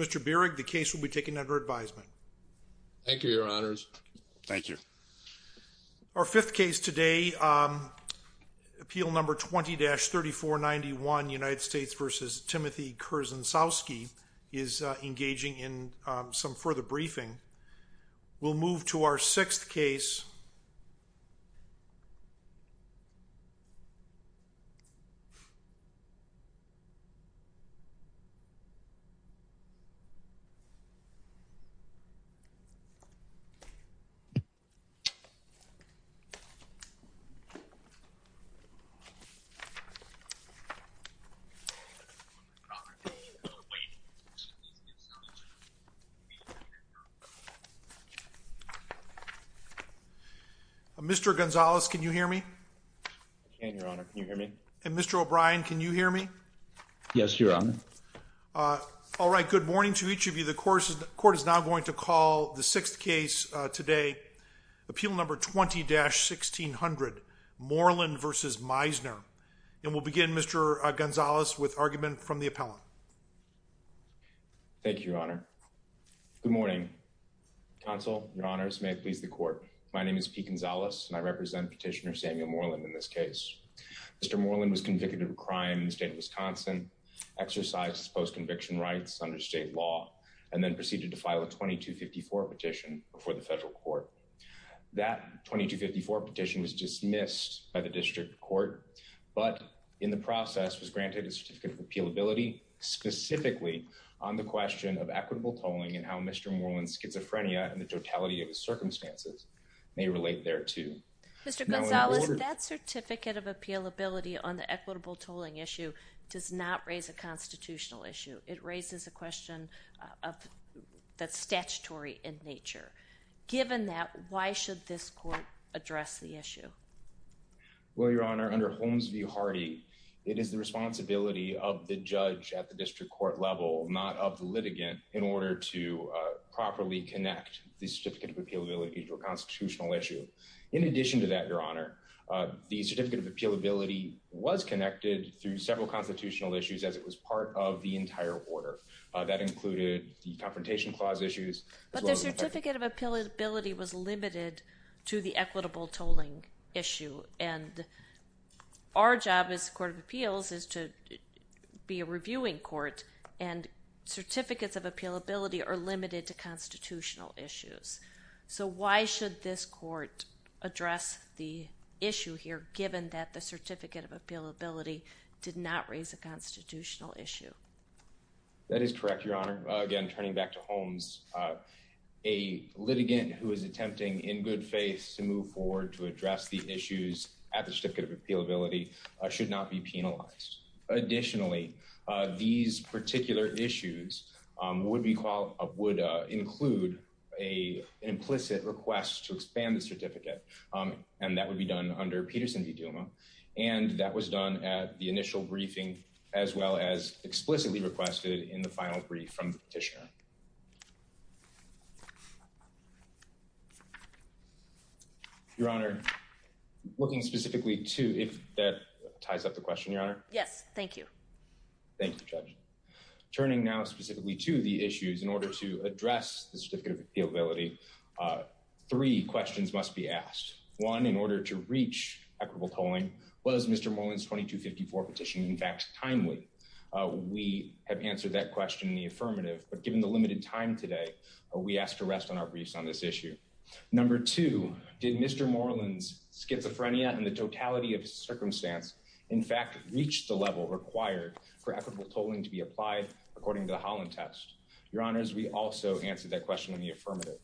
Mr. Bierig the case will be taken under advisement. Thank you, your honors. Thank you. Our fifth case today, appeal number 20-3491 United States v. Timothy Kersensowski is engaging in some further briefing. We'll move to our sixth case. Mr. Gonzales, can you hear me? And your honor, can you hear me? And Mr. O'Brien, can you hear me? Yes, your honor. All right. Good morning to each of you. The court is now going to call the sixth case today. Appeal number 20-1600 Moreland v. Meisner. And we'll begin Mr. Gonzales with argument from the appellant. Thank you, your honor. Good morning. Counsel, your honors, may it please the court. My name is P. Gonzales, and I represent petitioner Samuel Moreland in this case. Mr. Moreland was convicted of a crime in the state of Wisconsin, exercised post-conviction rights under state law, and then proceeded to file a 2254 petition before the federal court. That 2254 petition was dismissed by the district court, but in the process was granted a certificate of appealability, specifically on the question of equitable tolling and how Mr. Moreland was able to do so. Mr. Moreland's schizophrenia and the totality of his circumstances may relate thereto. Mr. Gonzales, that certificate of appealability on the equitable tolling issue does not raise a constitutional issue. It raises a question that's statutory in nature. Given that, why should this court address the issue? Well, your honor, under Holmes v. Hardy, it is the responsibility of the judge at the district court level, not of the litigant, in order to properly connect the certificate of appealability to a constitutional issue. In addition to that, your honor, the certificate of appealability was connected through several constitutional issues as it was part of the entire order. That included the Confrontation Clause issues. But the certificate of appealability was limited to the equitable tolling issue, and our job as the Court of Appeals is to be a reviewing court, and certificates of appealability are limited to constitutional issues. So why should this court address the issue here, given that the certificate of appealability did not raise a constitutional issue? That is correct, your honor. Again, turning back to Holmes, a litigant who is attempting in good faith to move forward to address the issues at the certificate of appealability should not be penalized. Additionally, these particular issues would include an implicit request to expand the certificate, and that would be done under Peterson v. Duma, and that was done at the initial briefing as well as explicitly requested in the final brief from the petitioner. Your honor, looking specifically to, if that ties up the question, your honor? Yes, thank you. Thank you, Judge. Turning now specifically to the issues in order to address the certificate of appealability, three questions must be asked. One, in order to reach equitable tolling, was Mr. Moreland's 2254 petition in fact timely? We have answered that question in the affirmative, but given the limited time today, we ask to rest on our briefs on this issue. Number two, did Mr. Moreland's schizophrenia and the totality of his circumstance in fact reach the level required for equitable tolling to be applied according to the Holland test? Your honors, we also answered that question in the affirmative.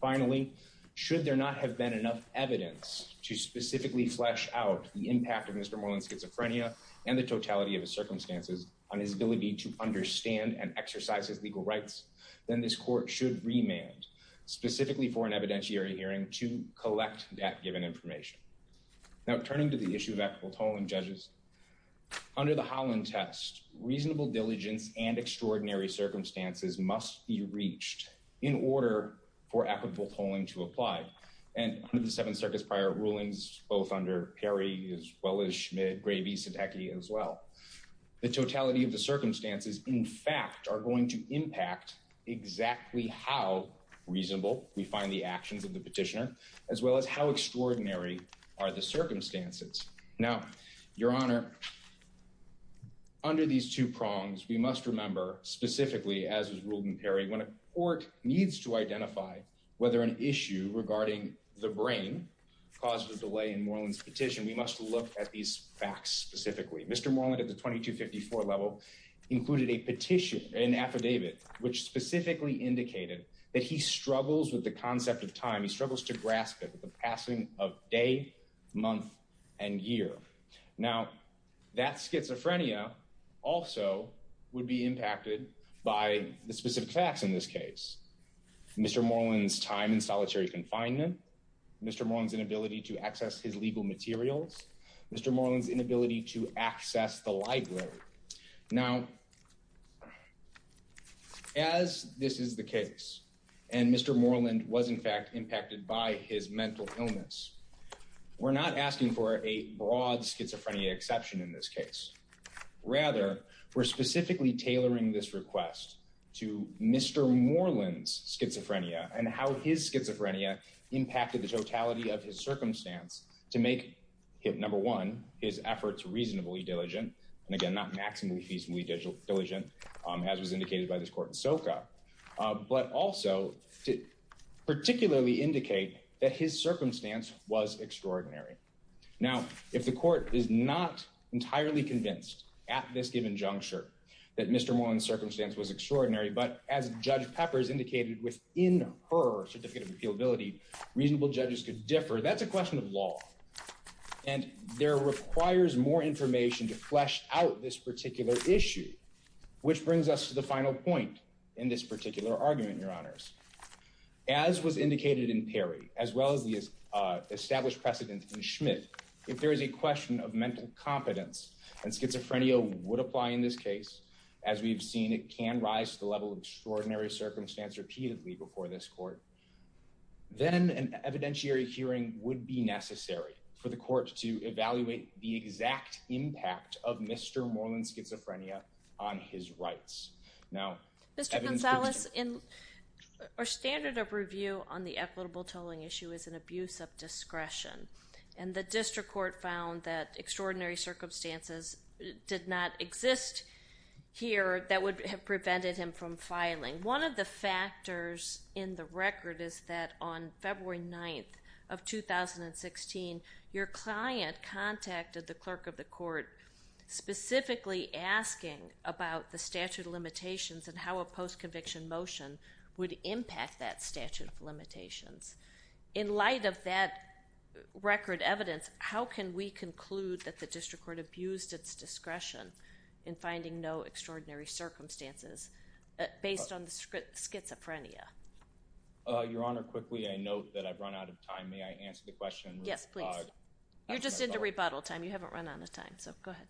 Finally, should there not have been enough evidence to specifically flesh out the impact of Mr. Moreland's schizophrenia and the totality of his circumstances on his ability to understand and exercise his legal rights, then this court should remand specifically for an evidentiary hearing to collect that given information. Now, turning to the issue of equitable tolling, judges, under the Holland test, reasonable diligence and extraordinary circumstances must be reached in order for equitable tolling to apply. The totality of the circumstances in fact are going to impact exactly how reasonable we find the actions of the petitioner, as well as how extraordinary are the circumstances. Now, your honor, under these two prongs, we must remember specifically, as was ruled in Perry, when a court needs to identify whether an issue regarding the brain caused a delay in Moreland's petition, we must look at these facts specifically. Mr. Moreland at the 2254 level included a petition, an affidavit, which specifically indicated that he struggles with the concept of time. He struggles to grasp it with the passing of day, month, and year. Now, that schizophrenia also would be impacted by the specific facts in this case. Mr. Moreland's time in solitary confinement, Mr. Moreland's inability to access his legal materials, Mr. Moreland's inability to access the library. Now, as this is the case, and Mr. Moreland was in fact impacted by his mental illness, we're not asking for a broad schizophrenia exception in this case. Rather, we're specifically tailoring this request to Mr. Moreland's schizophrenia and how his schizophrenia impacted the totality of his circumstance to make, number one, his efforts reasonably diligent, and again, not maximally reasonably diligent, as was indicated by this court in Soka, but also to particularly indicate that his circumstance was extraordinary. Now, if the court is not entirely convinced at this given juncture that Mr. Moreland's circumstance was extraordinary, but as Judge Peppers indicated within her certificate of appealability, reasonable judges could differ, that's a question of law. And there requires more information to flesh out this particular issue, which brings us to the final point in this particular argument, Your Honors. As was indicated in Perry, as well as the established precedent in Schmidt, if there is a question of mental competence and schizophrenia would apply in this case, as we've seen, it can rise to the level of extraordinary circumstance repeatedly before this court, then an evidentiary hearing would be necessary for the court to evaluate the exact impact of Mr. Moreland's schizophrenia on his rights. Mr. Gonzalez, our standard of review on the equitable tolling issue is an abuse of discretion, and the district court found that extraordinary circumstances did not exist here that would have prevented him from filing. One of the factors in the record is that on February 9th of 2016, your client contacted the clerk of the court specifically asking about the statute of limitations and how a post-conviction motion would impact that statute of limitations. In light of that record evidence, how can we conclude that the district court abused its discretion in finding no extraordinary circumstances based on the schizophrenia? Your Honor, quickly, I note that I've run out of time. May I answer the question? Yes, please. You're just into rebuttal time. You haven't run out of time, so go ahead.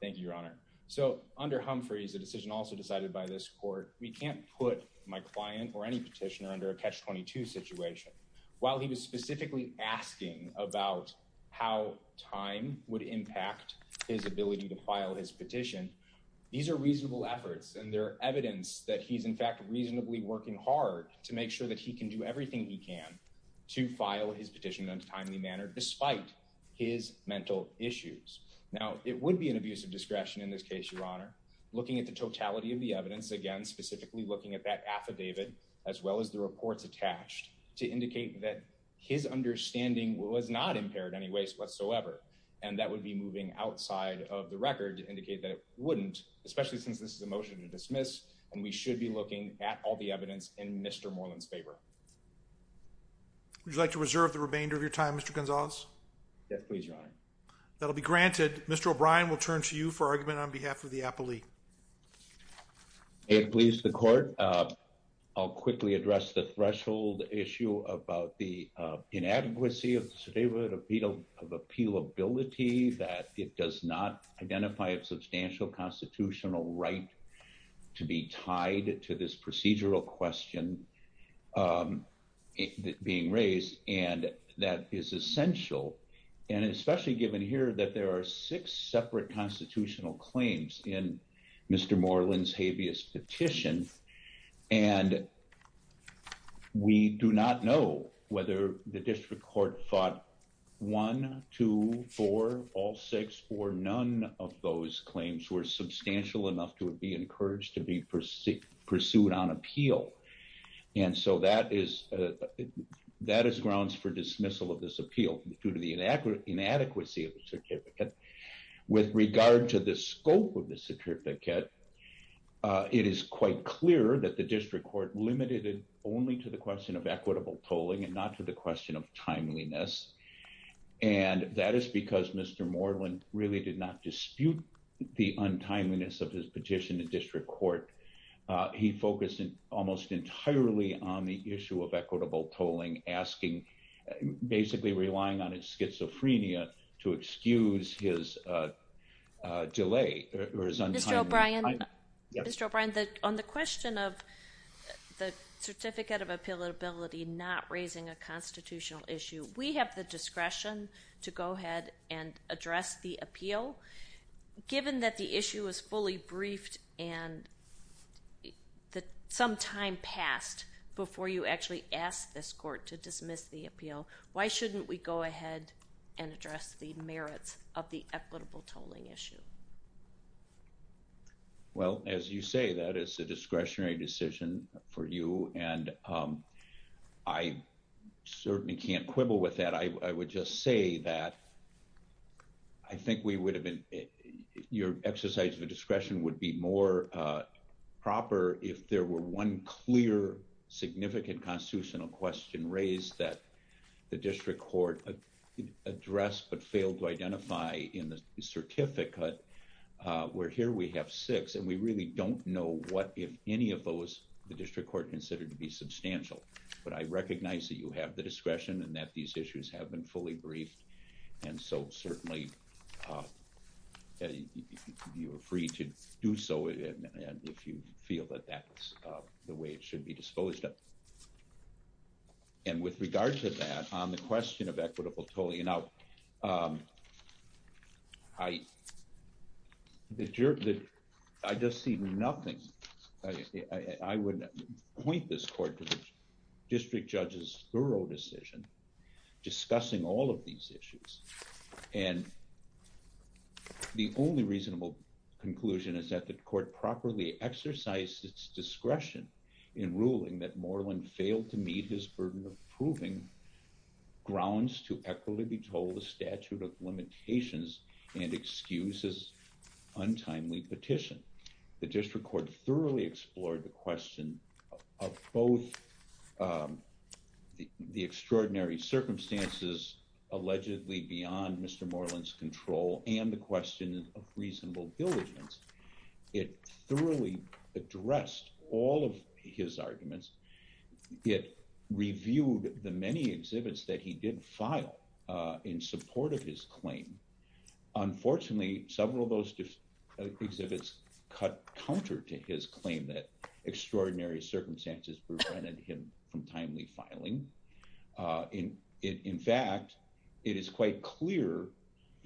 Thank you, Your Honor. So, under Humphreys, a decision also decided by this court, we can't put my client or any petitioner under a catch-22 situation. While he was specifically asking about how time would impact his ability to file his petition, these are reasonable efforts, and they're evidence that he's, in fact, reasonably working hard to make sure that he can do everything he can to file his petition in a timely manner despite his mental issues. Now, it would be an abuse of discretion in this case, Your Honor, looking at the totality of the evidence, again, specifically looking at that affidavit as well as the reports attached to indicate that his understanding was not impaired in any way whatsoever. And that would be moving outside of the record to indicate that it wouldn't, especially since this is a motion to dismiss, and we should be looking at all the evidence in Mr. Moreland's favor. Would you like to reserve the remainder of your time, Mr. Gonzalez? Yes, please, Your Honor. That'll be granted. Mr. O'Brien will turn to you for argument on behalf of the appellee. May it please the court, I'll quickly address the threshold issue about the inadequacy of the affidavit of appealability, that it does not identify a substantial constitutional right to be tied to this procedural question being raised, and that is essential, and especially given here that there are six separate constitutional claims in Mr. Moreland's habeas petition. And we do not know whether the district court fought one, two, four, all six, or none of those claims were substantial enough to be encouraged to be pursued on appeal. And so that is grounds for dismissal of this appeal due to the inadequacy of the certificate. With regard to the scope of the certificate, it is quite clear that the district court limited it only to the question of equitable tolling and not to the question of timeliness. And that is because Mr. Moreland really did not dispute the untimeliness of his petition to district court. He focused almost entirely on the issue of equitable tolling, asking, basically relying on his schizophrenia to excuse his delay or his untimeliness. Mr. O'Brien, on the question of the certificate of appealability not raising a constitutional issue, we have the discretion to go ahead and address the appeal. Given that the issue is fully briefed and that some time passed before you actually asked this court to dismiss the appeal, why shouldn't we go ahead and address the merits of the equitable tolling issue? Well, as you say, that is a discretionary decision for you, and I certainly can't quibble with that. I would just say that I think we would have been, your exercise of the discretion would be more proper if there were one clear, significant constitutional question raised that the district court addressed but failed to identify in the certificate. Where here we have six, and we really don't know what if any of those the district court considered to be substantial. But I recognize that you have the discretion and that these issues have been fully briefed, and so certainly you are free to do so if you feel that that's the way it should be disposed of. And with regard to that, on the question of equitable tolling, I just see nothing. I would point this court to the district judge's thorough decision discussing all of these issues. And the only reasonable conclusion is that the court properly exercised its discretion in ruling that Moreland failed to meet his burden of proving grounds to equitably toll the statute of limitations and excuse his untimely petition. The district court thoroughly explored the question of both the extraordinary circumstances allegedly beyond Mr. Moreland's control and the question of reasonable diligence. It thoroughly addressed all of his arguments. It reviewed the many exhibits that he did file in support of his claim. Unfortunately, several of those exhibits cut counter to his claim that extraordinary circumstances prevented him from timely filing. In fact, it is quite clear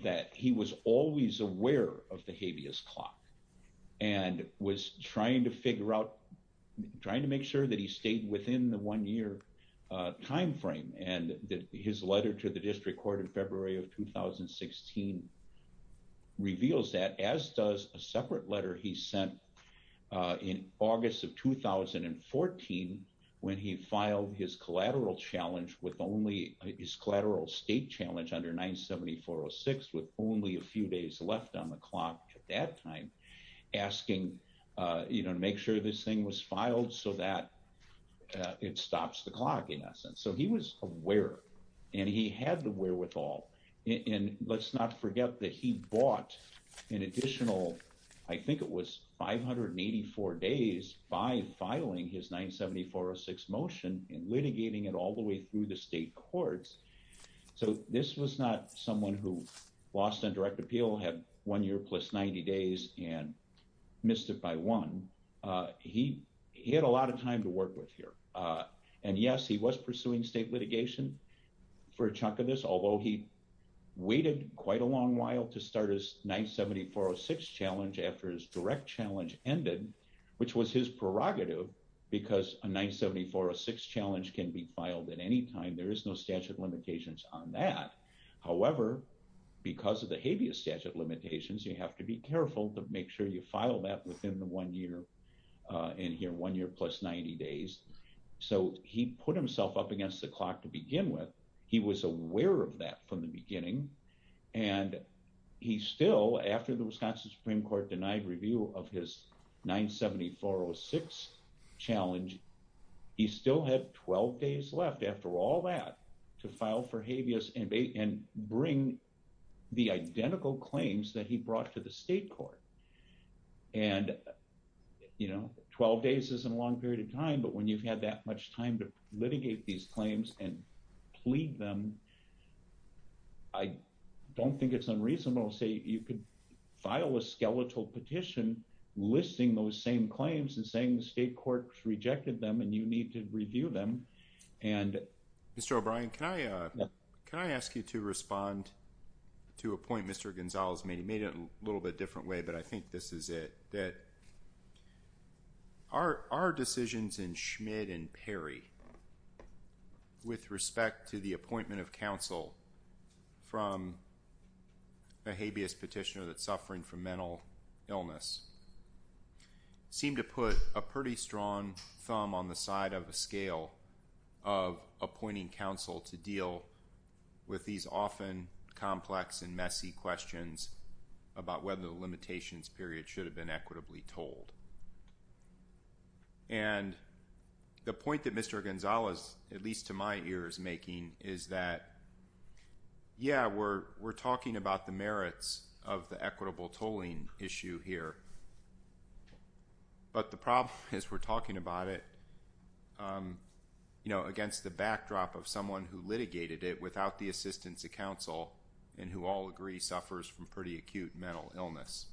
that he was always aware of the habeas clock and was trying to figure out, as does a separate letter he sent in August of 2014 when he filed his collateral state challenge under 97406 with only a few days left on the clock at that time, asking to make sure this thing was filed so that it stops the clock in essence. So he was aware and he had the wherewithal. And let's not forget that he bought an additional I think it was 584 days by filing his 97406 motion and litigating it all the way through the state courts. So this was not someone who lost on direct appeal, had one year plus 90 days and missed it by one. He had a lot of time to work with here. And yes, he was pursuing state litigation for a chunk of this, although he waited quite a long while to start his 97406 challenge after his direct challenge ended, which was his prerogative, because a 97406 challenge can be filed at any time, there is no statute of limitations on that. So he put himself up against the clock to begin with. He was aware of that from the beginning. And he still, after the Wisconsin Supreme Court denied review of his 97406 challenge, he still had 12 days left after all that to file for habeas and bring the identical claims that he brought to the state court. And, you know, 12 days is a long period of time. But when you've had that much time to litigate these claims and plead them, I don't think it's unreasonable to say you could file a skeletal petition listing those same claims and saying the state courts rejected them and you need to review them. Mr. O'Brien, can I ask you to respond to a point Mr. Gonzalez made? He made it in a little bit different way, but I think this is it. Our decisions in Schmidt and Perry with respect to the appointment of counsel from a habeas petitioner that's suffering from mental illness seem to put a pretty strong thumb on the side of the scale of appointing counsel to deal with these often complex and messy questions about whether the limitations period should have been equitable. And the point that Mr. Gonzalez, at least to my ear, is making is that, yeah, we're talking about the merits of the equitable tolling issue here. But the problem is we're talking about it, you know, against the backdrop of someone who litigated it without the assistance of counsel and who all agree suffers from pretty acute mental illness.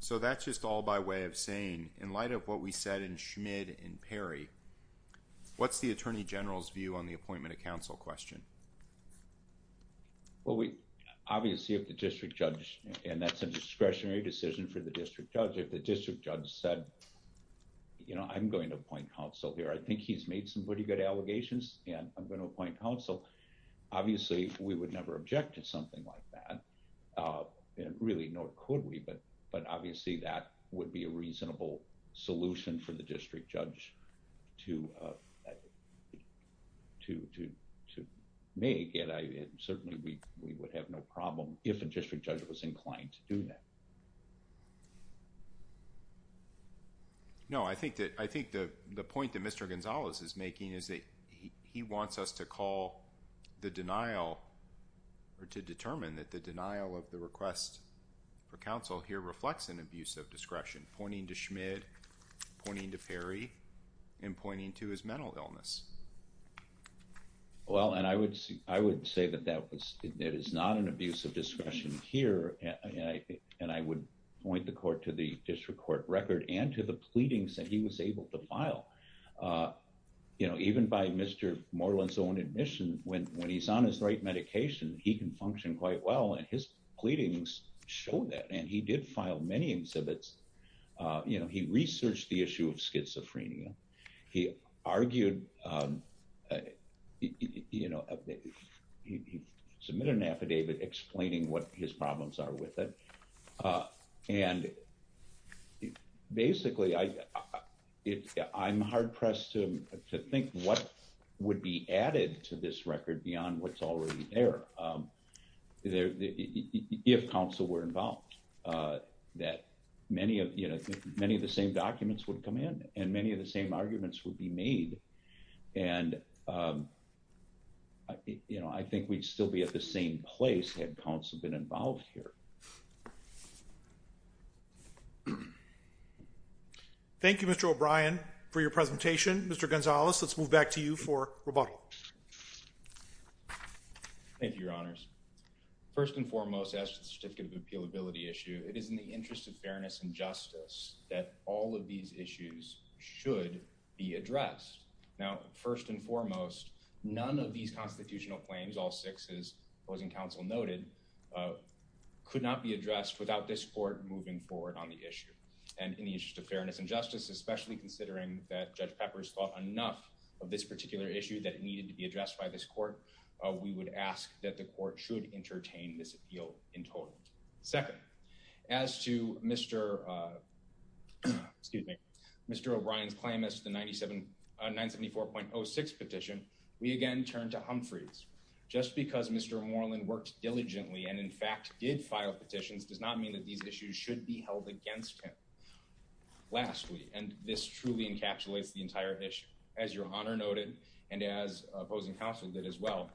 So that's just all by way of saying, in light of what we said in Schmidt and Perry, what's the Attorney General's view on the appointment of counsel question? Well, obviously, if the district judge, and that's a discretionary decision for the district judge, if the district judge said, you know, I'm going to appoint counsel here, I think he's made some pretty good allegations and I'm going to appoint counsel. Obviously, we would never object to something like that, and really, nor could we, but obviously, that would be a reasonable solution for the district judge to make. And certainly, we would have no problem if a district judge was inclined to do that. No, I think that the point that Mr. Gonzalez is making is that he wants us to call the denial or to determine that the denial of the request for counsel here reflects an abuse of discretion, pointing to Schmidt, pointing to Perry, and pointing to his mental illness. Well, and I would say that that is not an abuse of discretion here, and I would point the court to the district court record and to the pleadings that he was able to file. You know, even by Mr. Moreland's own admission, when he's on his right medication, he can function quite well, and his pleadings show that, and he did file many exhibits. You know, he researched the issue of schizophrenia, he argued, you know, he submitted an affidavit explaining what his problems are with it, and basically, I'm hard-pressed to think what would be added to this record beyond what's already there. If counsel were involved, that many of the same documents would come in, and many of the same arguments would be made, and, you know, I think we'd still be at the same place had counsel been involved here. Thank you, Mr. O'Brien, for your presentation. Mr. Gonzalez, let's move back to you for rebuttal. Thank you, Your Honors. First and foremost, as to the certificate of appealability issue, it is in the interest of fairness and justice that all of these issues should be addressed. Now, first and foremost, none of these constitutional claims, all six, as opposing counsel noted, could not be addressed without this court moving forward on the issue. And in the interest of fairness and justice, especially considering that Judge Peppers thought enough of this particular issue that it needed to be addressed by this court, we would ask that the court should entertain this appeal in total. Second, as to Mr. O'Brien's claim as to the 974.06 petition, we again turn to Humphreys. Just because Mr. Moreland worked diligently and, in fact, did file petitions does not mean that these issues should be held against him. Lastly, and this truly encapsulates the entire issue, as Your Honor noted and as opposing counsel did as well,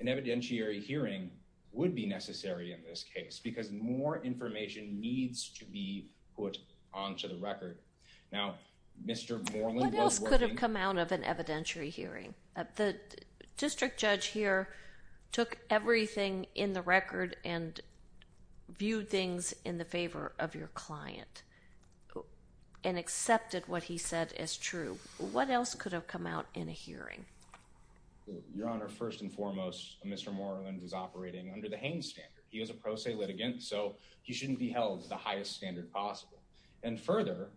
an evidentiary hearing would be necessary in this case because more information needs to be put onto the record. What else could have come out of an evidentiary hearing? The district judge here took everything in the record and viewed things in the favor of your client and accepted what he said as true. What else could have come out in a hearing? Your Honor, first and foremost, Mr. Moreland is operating under the Haines standard. He is a pro se litigant, so he shouldn't be held to the highest standard possible. And further,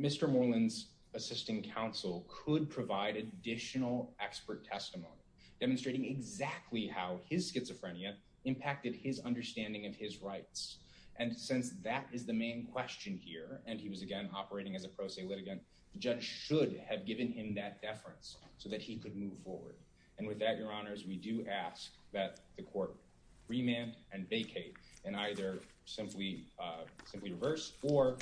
Mr. Moreland's assisting counsel could provide additional expert testimony, demonstrating exactly how his schizophrenia impacted his understanding of his rights. And since that is the main question here, and he was again operating as a pro se litigant, the judge should have given him that deference so that he could move forward. And with that, Your Honors, we do ask that the court remand and vacate and either simply reverse or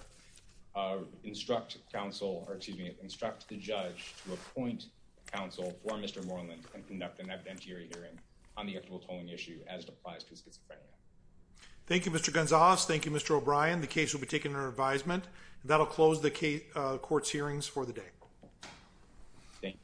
instruct counsel, or excuse me, instruct the judge to appoint counsel for Mr. Moreland and conduct an evidentiary hearing on the equitable tolling issue as it applies to his schizophrenia. Thank you, Mr. Gonzales. Thank you, Mr. O'Brien. The case will be taken under advisement. That will close the court's hearings for the day. Thank you.